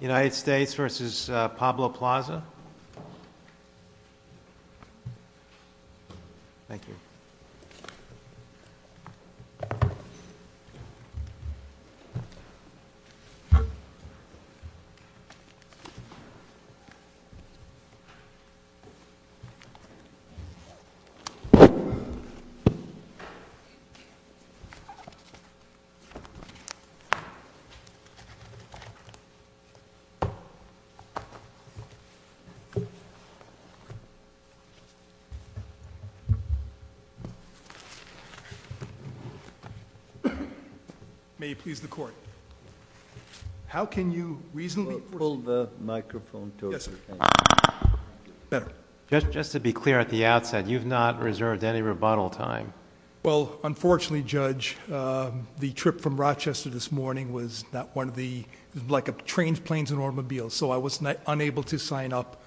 United States v. Pablo Plaza. May he please the court. How can you reasonably... Just to be clear at the outset, you've not reserved any rebuttal time. Well, unfortunately, Judge, the trip from Rochester this morning was like a train, planes and automobiles. So I was unable to sign up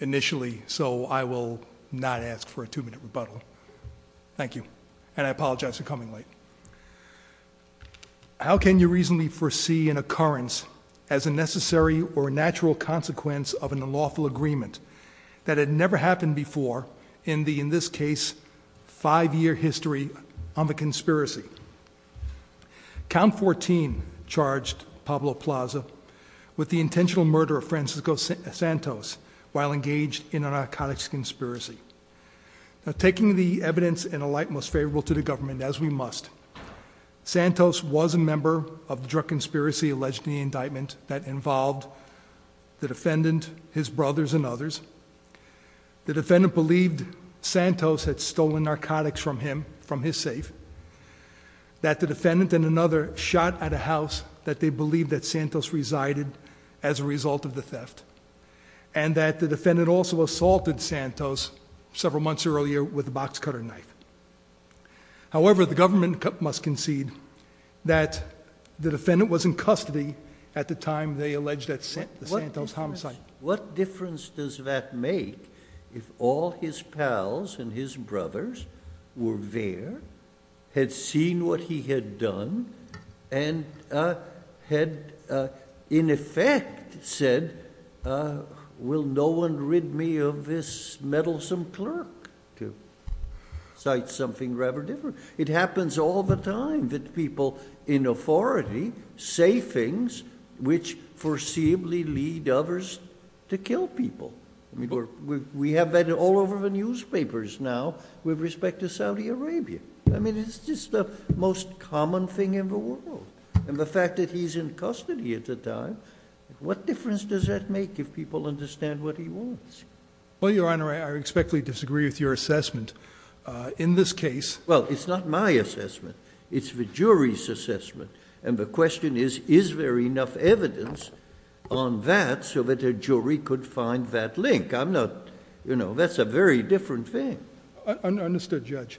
initially. So I will not ask for a two-minute rebuttal. Thank you. And I apologize for coming late. How can you reasonably foresee an occurrence as a necessary or natural consequence of an unlawful agreement that had never happened before in the, in this case, five-year history on the conspiracy? Count 14 charged Pablo Plaza with the intentional murder of Francisco Santos while engaged in a narcotics conspiracy. Taking the evidence in a light most favorable to the government as we must, Santos was a brother and others. The defendant believed Santos had stolen narcotics from him, from his safe. That the defendant and another shot at a house that they believed that Santos resided as a result of the theft. And that the defendant also assaulted Santos several months earlier with a box cutter knife. However, the government must concede that the defendant was in custody at the time they alleged that Santos homicide. What difference does that make if all his pals and his brothers were there, had seen what he had done, and had in effect said, will no one rid me of this meddlesome clerk to cite something rather different? It happens all the time that people in authority say things which foreseeably lead others to kill people. I mean, we have that all over the newspapers now with respect to Saudi Arabia. I mean, it's just the most common thing in the world. And the fact that he's in custody at the time, what difference does that make if people understand what he wants? Well, Your Honor, I respectfully disagree with your assessment. In this case... Well, it's not my assessment. It's the jury's assessment. And the question is, is there enough evidence on that so that a jury could find that link? I'm not... you know, that's a very different thing. Understood, Judge.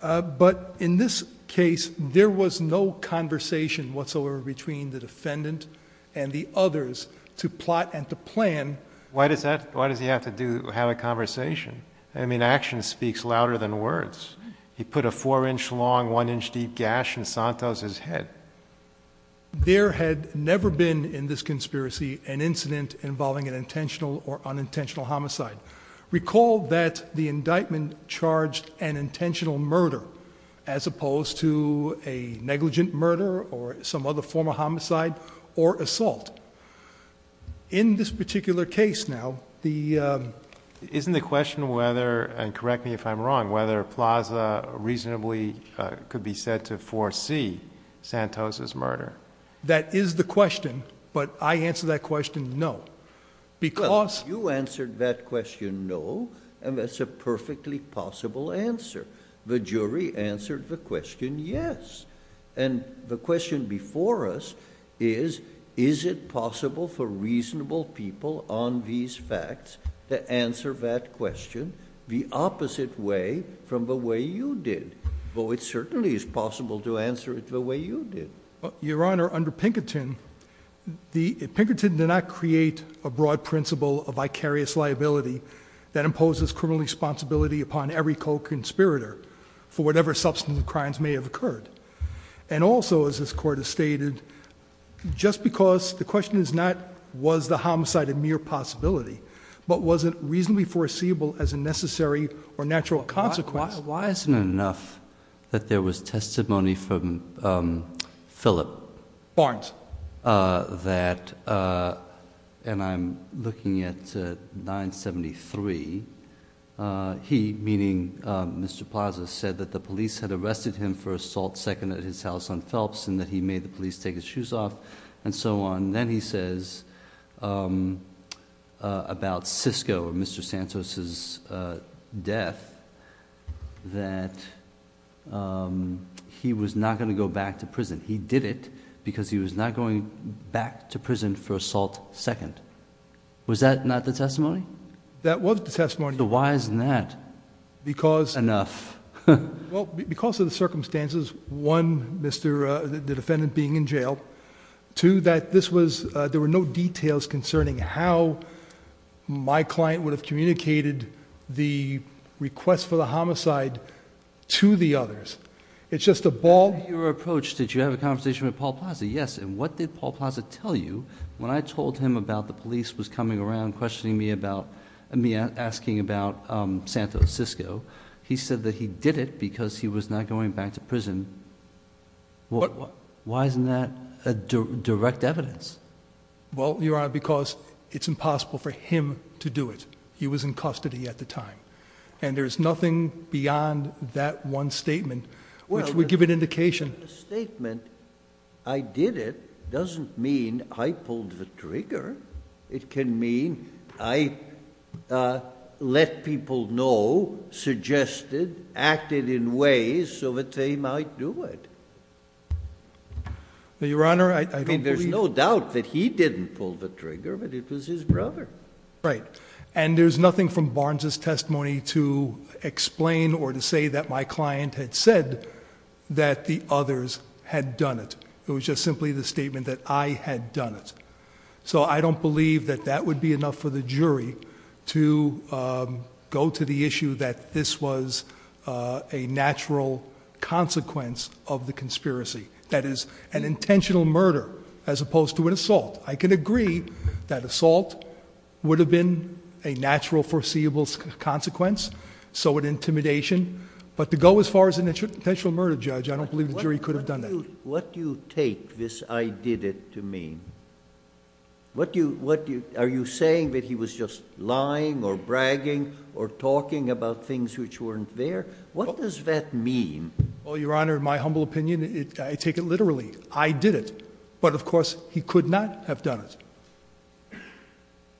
But in this case, there was no conversation whatsoever between the defendant and the others to plot and to plan... Why does he have to have a conversation? I mean, action speaks louder than words. He put a four-inch-long, one-inch-deep gash in Santos' head. There had never been in this conspiracy an incident involving an intentional or unintentional homicide. Recall that the indictment charged an intentional murder as opposed to a negligent murder or some other form of homicide or assault. In this particular case now, the... Isn't the question whether, and correct me if I'm wrong, whether Plaza reasonably could be said to foresee Santos' murder? That is the question, but I answer that question, no. Because... You answered that question, no, and that's a perfectly possible answer. The jury answered the question, yes. And the question before us is, is it possible for reasonable people on these facts to answer that question the opposite way from the way you did? Though it certainly is possible to answer it the way you did. Your Honor, under Pinkerton, Pinkerton did not create a broad principle of vicarious liability that imposes criminal responsibility upon every co-conspirator for whatever substantive crimes may have occurred. And also, as this Court has stated, just because... Why isn't it enough that there was testimony from Philip Barnes that... and I'm looking at 973, he, meaning Mr. Plaza, said that the police had arrested him for assault second at his house on Phelps and that he made the police take his shoes off and so on. And then he says about Sisko, Mr. Santos' death, that he was not going to go back to prison. He did it because he was not going back to prison for assault second. Was that not the testimony? That was the testimony. Why isn't that... Because... Enough. Because of the circumstances, one, the defendant being in jail, two, that there were no details concerning how my client would have communicated the request for the homicide to the others. It's just a ball... In your approach, did you have a conversation with Paul Plaza? Yes. And what did Paul Plaza tell you when I told him about the police was coming around questioning me about... me asking about Santos, Sisko? He said that he did it because he was not going back to prison. Why isn't that a direct evidence? Well, Your Honor, because it's impossible for him to do it. He was in custody at the time. And there's nothing beyond that one statement which would give an indication... Well, the statement, I did it, doesn't mean I pulled the trigger. It can mean I let people know, suggested, acted in ways so that they might do it. Well, Your Honor, I don't believe... I mean, there's no doubt that he didn't pull the trigger, but it was his brother. Right. And there's nothing from Barnes' testimony to explain or to say that my client had said that the others had done it. It was just simply the statement that I had done it. So I don't believe that that would be enough for the jury to go to the issue that this was a natural consequence of the conspiracy. That is, an intentional murder as opposed to an assault. I can agree that assault would have been a natural foreseeable consequence, so an intimidation. But to go as far as an intentional murder, Judge, I don't believe the jury could have done that. What do you take this, I did it, to mean? Are you saying that he was just lying or bragging or talking about things which weren't there? What does that mean? Well, Your Honor, in my humble opinion, I take it literally. I did it. But, of course, he could not have done it.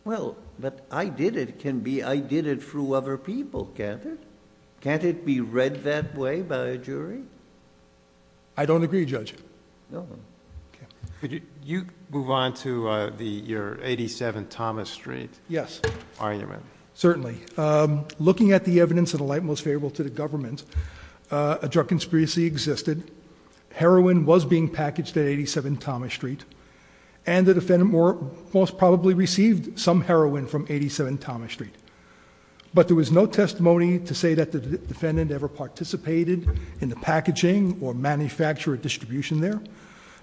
Well, but I did it can be I did it through other people, can't it? Can't it be read that way by a jury? I don't agree, Judge. No? Okay. Could you move on to your 87 Thomas Street argument? Yes. Certainly. Looking at the evidence in a light most favorable to the government, a drug conspiracy existed. Heroin was being packaged at 87 Thomas Street, and the defendant most probably received some heroin from 87 Thomas Street. But there was no testimony to say that the defendant ever participated in the packaging or manufacturer distribution there,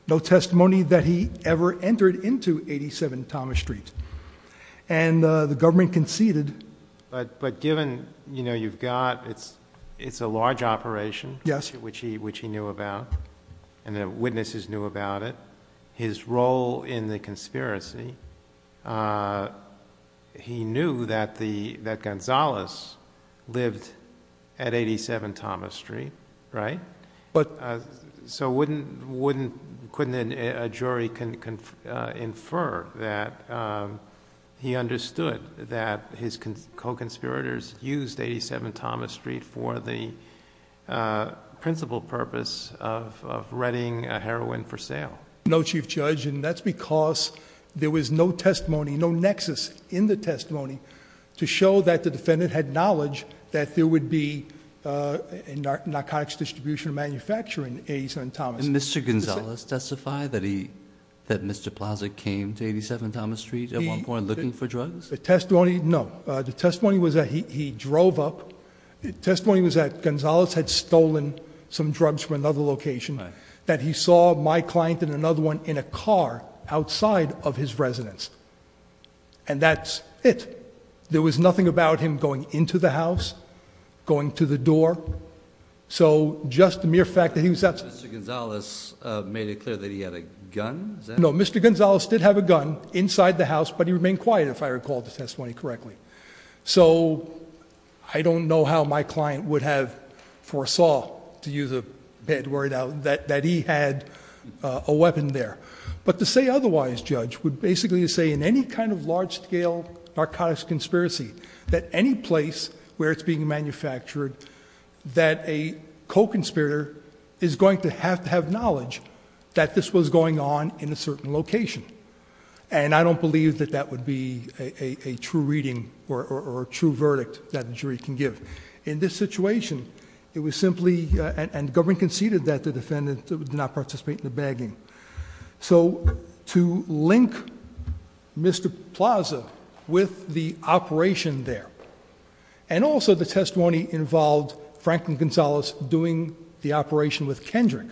no testimony that he ever entered into 87 Thomas Street. And the government conceded... But given, you know, you've got... it's a large operation... Yes.... which he knew about, and the witnesses knew about it, his role in the conspiracy, he knew that the... that Gonzalez lived at 87 Thomas Street, right? But... So wouldn't... wouldn't... couldn't a jury infer that he understood that his co-conspirators used 87 Thomas Street for the principal purpose of readying heroin for sale? No. No, Chief Judge. And that's because there was no testimony, no nexus in the testimony to show that the defendant had knowledge that there would be a narcotics distribution or manufacturing at 87 Thomas Street. And Mr. Gonzalez testified that he... that Mr. Plaza came to 87 Thomas Street at one point looking for drugs? The testimony... no. The testimony was that he drove up... the testimony was that Gonzalez had stolen some and another one in a car outside of his residence. And that's it. There was nothing about him going into the house, going to the door, so just the mere fact that he was... Mr. Gonzalez made it clear that he had a gun? Is that... No. Mr. Gonzalez did have a gun inside the house, but he remained quiet, if I recall the testimony correctly. So I don't know how my client would have foresaw, to use a bad word out, that he had a weapon there. But to say otherwise, Judge, would basically say in any kind of large-scale narcotics conspiracy, that any place where it's being manufactured, that a co-conspirator is going to have to have knowledge that this was going on in a certain location. And I don't believe that that would be a true reading or a true verdict that a jury can give. In this situation, it was simply... and the government conceded that the defendant did not participate in the bagging. So to link Mr. Plaza with the operation there, and also the testimony involved Franklin Gonzalez doing the operation with Kendrick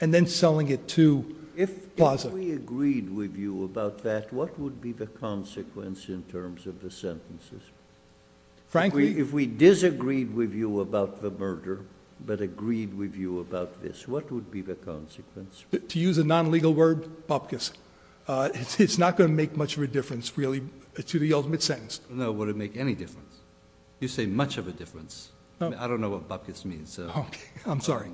and then selling it to Plaza. If we agreed with you about that, what would be the consequence in terms of the sentences? Frankly... If we disagreed with you about the murder, but agreed with you about this, what would be the consequence? To use a non-legal word, bupkis. It's not going to make much of a difference, really, to the ultimate sentence. No, it wouldn't make any difference. You say much of a difference. I don't know what bupkis means, so... I'm sorry.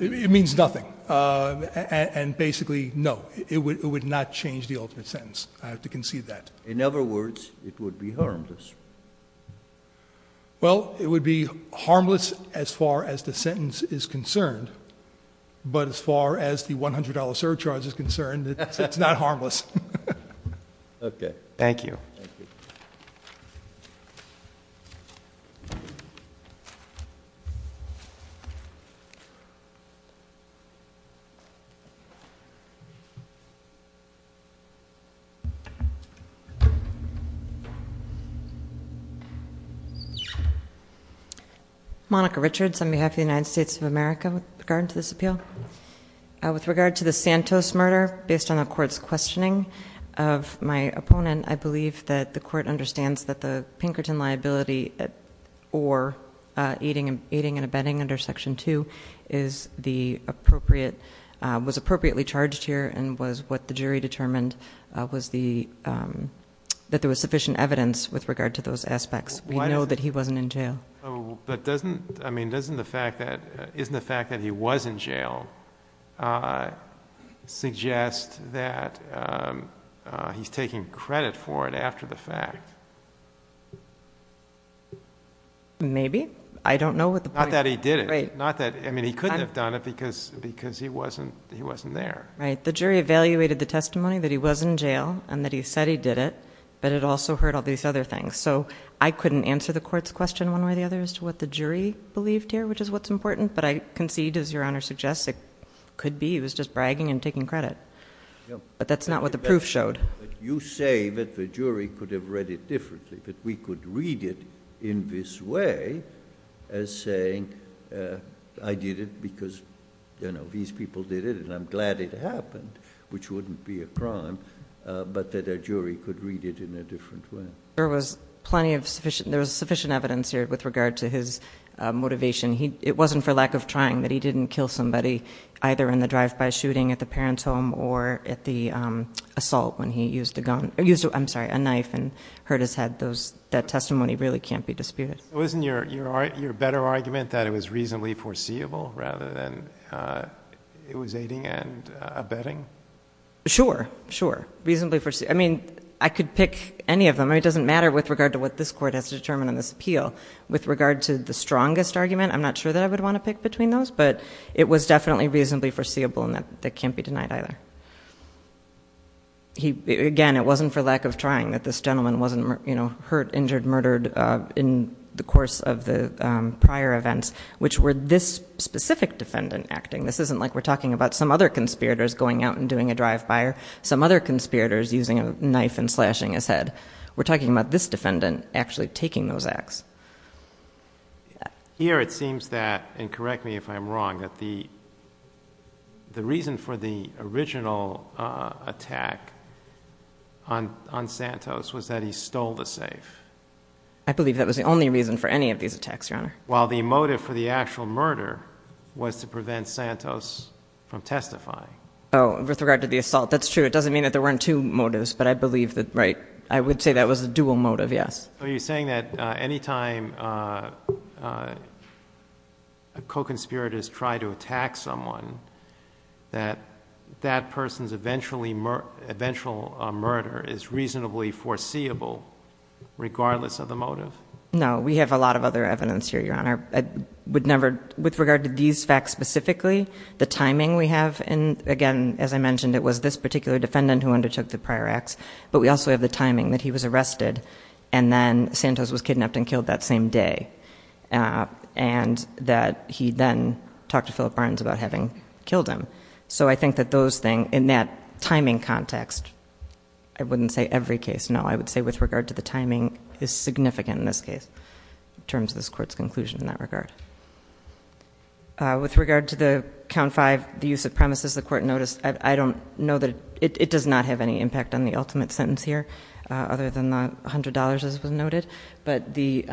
It means nothing. And basically, no, it would not change the ultimate sentence. I have to concede that. In other words, it would be harmless. Well, it would be harmless as far as the sentence is concerned. But as far as the $100 surcharge is concerned, it's not harmless. Thank you. Thank you. Monica Richards, on behalf of the United States of America, with regard to this appeal. With regard to the Santos murder, based on the court's questioning of my opponent, I believe that Section 4, aiding and abetting under Section 2, was appropriately charged here and what the jury determined was that there was sufficient evidence with regard to those aspects. We know that he wasn't in jail. But doesn't the fact that he wasn't in jail suggest that he's taking credit for it after the fact? Maybe. I don't know what the point... Not that he did it. Right. Not that... I mean, he couldn't have done it because he wasn't there. Right. The jury evaluated the testimony that he was in jail and that he said he did it, but it also heard all these other things. So I couldn't answer the court's question one way or the other as to what the jury believed here, which is what's important. But I concede, as Your Honor suggests, it could be he was just bragging and taking credit. But that's not what the proof showed. You say that the jury could have read it differently, that we could read it in this way as saying I did it because these people did it and I'm glad it happened, which wouldn't be a crime, but that a jury could read it in a different way. There was sufficient evidence here with regard to his motivation. It wasn't for lack of trying that he didn't kill somebody either in the drive-by shooting at the parents' home or at the assault when he used a knife and hurt his head. That testimony really can't be disputed. Wasn't your better argument that it was reasonably foreseeable rather than it was aiding and abetting? Sure. Sure. Reasonably foreseeable. I mean, I could pick any of them. It doesn't matter with regard to what this Court has determined in this appeal. With regard to the strongest argument, I'm not sure that I would want to pick between those, but it was definitely reasonably foreseeable and that can't be denied either. Again, it wasn't for lack of trying that this gentleman wasn't hurt, injured, murdered in the course of the prior events, which were this specific defendant acting. This isn't like we're talking about some other conspirators going out and doing a drive-by or some other conspirators using a knife and slashing his head. We're talking about this defendant actually taking those acts. Here, it seems that, and correct me if I'm wrong, that the reason for the original attack on Santos was that he stole the safe. I believe that was the only reason for any of these attacks, Your Honor. While the motive for the actual murder was to prevent Santos from testifying. Oh, with regard to the assault, that's true. It doesn't mean that there weren't two motives, but I believe that, right, I would say that was a dual motive, yes. So you're saying that any time a co-conspirator has tried to attack someone, that that person's eventual murder is reasonably foreseeable regardless of the motive? No, we have a lot of other evidence here, Your Honor. With regard to these facts specifically, the timing we have, and again, as I mentioned, it was this particular defendant who undertook the prior acts, but we also have the timing that he was arrested and then Santos was kidnapped and killed that same day. And that he then talked to Philip Barnes about having killed him. So I think that those things, in that timing context, I wouldn't say every case, no. I would say with regard to the timing is significant in this case in terms of this Court's conclusion in that regard. With regard to the Count 5, the use of premises, the Court noticed, I don't know that, it does not have any impact on the ultimate sentence here, other than the $100, as was noted, but the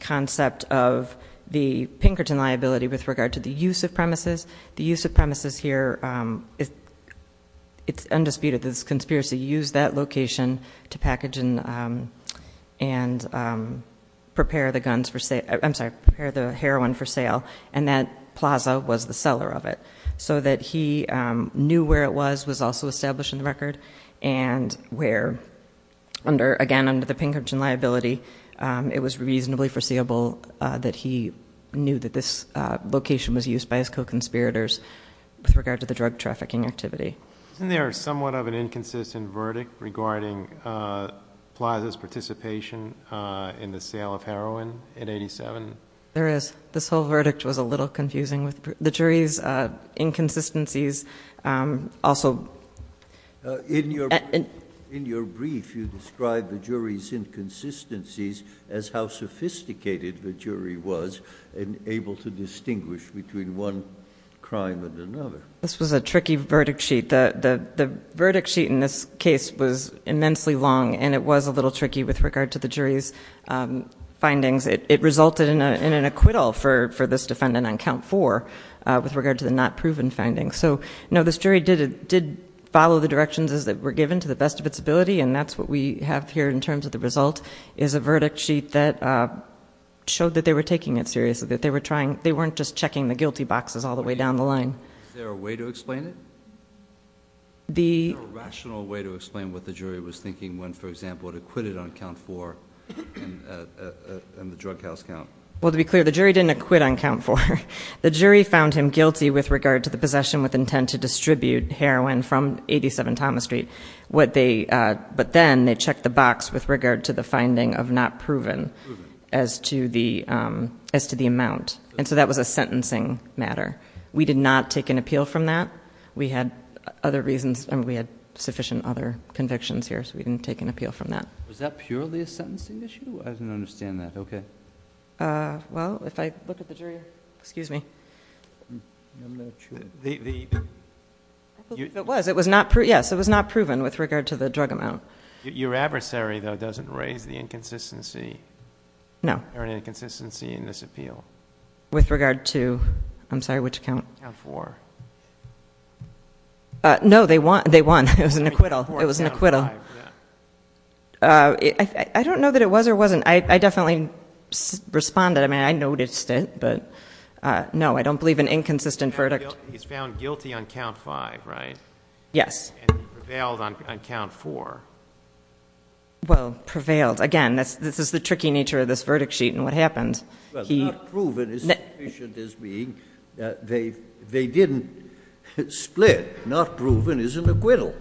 concept of the Pinkerton liability with regard to the use of premises. The use of premises here, it's undisputed that this conspiracy used that location to package and prepare the guns for sale, I'm sorry, prepare the heroin for sale. And that plaza was the seller of it. So that he knew where it was, was also established in the record, and where under, again, under the Pinkerton liability, it was reasonably foreseeable that he knew that this location was used by his co-conspirators with regard to the drug trafficking activity. Isn't there somewhat of an inconsistent verdict regarding Plaza's participation in the sale of heroin in 87? There is. This whole verdict was a little confusing. The jury's inconsistencies also- In your brief, you described the jury's inconsistencies as how sophisticated the jury was in able to distinguish between one crime and another. This was a tricky verdict sheet. The verdict sheet in this case was immensely long, and it was a little tricky with regard to the jury's findings. It resulted in an acquittal for this defendant on count four with regard to the not proven findings. So, no, this jury did follow the directions as they were given to the best of its ability, and that's what we have here in terms of the result, is a verdict sheet that showed that they were taking it seriously. That they weren't just checking the guilty boxes all the way down the line. Is there a way to explain it? Is there a rational way to explain what the jury was thinking when, for example, acquitted on count four in the drug house count? Well, to be clear, the jury didn't acquit on count four. The jury found him guilty with regard to the possession with intent to distribute heroin from 87 Thomas Street. But then they checked the box with regard to the finding of not proven as to the amount. And so that was a sentencing matter. We did not take an appeal from that. We had other reasons, and we had sufficient other convictions here, so we didn't take an appeal from that. Was that purely a sentencing issue? I didn't understand that. Okay. Well, if I look at the jury, excuse me. It was, yes, it was not proven with regard to the drug amount. Your adversary, though, doesn't raise the inconsistency or inconsistency in this appeal. With regard to, I'm sorry, which count? Count four. No, they won. It was an acquittal. It was an acquittal. I don't know that it was or wasn't. I definitely responded. I mean, I noticed it, but no, I don't believe an inconsistent verdict. He's found guilty on count five, right? Yes. And prevailed on count four. Well, prevailed. Again, this is the tricky nature of this verdict sheet and what happened. Well, not proven is sufficient as being that they didn't split. Not proven is an acquittal.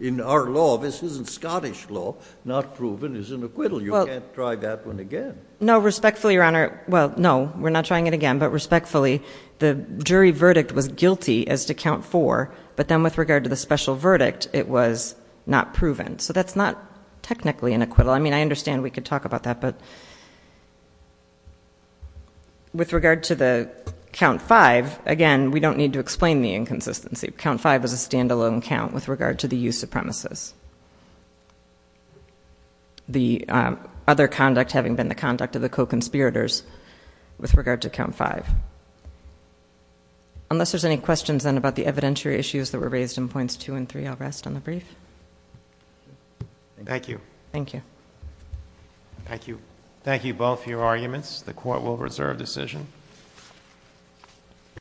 In our law, this isn't Scottish law, not proven is an acquittal. You can't try that one again. No, respectfully, Your Honor, well, no, we're not trying it again. But respectfully, the jury verdict was guilty as to count four. But then with regard to the special verdict, it was not proven. So that's not technically an acquittal. I mean, I understand we could talk about that. But with regard to the count five, again, we don't need to explain the inconsistency. Count five is a standalone count with regard to the use of premises. The other conduct having been the conduct of the co-conspirators with regard to count five. Unless there's any questions then about the evidentiary issues that were raised in points two and three, I'll rest on the brief. Thank you. Thank you. Thank you. Thank you both for your arguments. The court will reserve decision.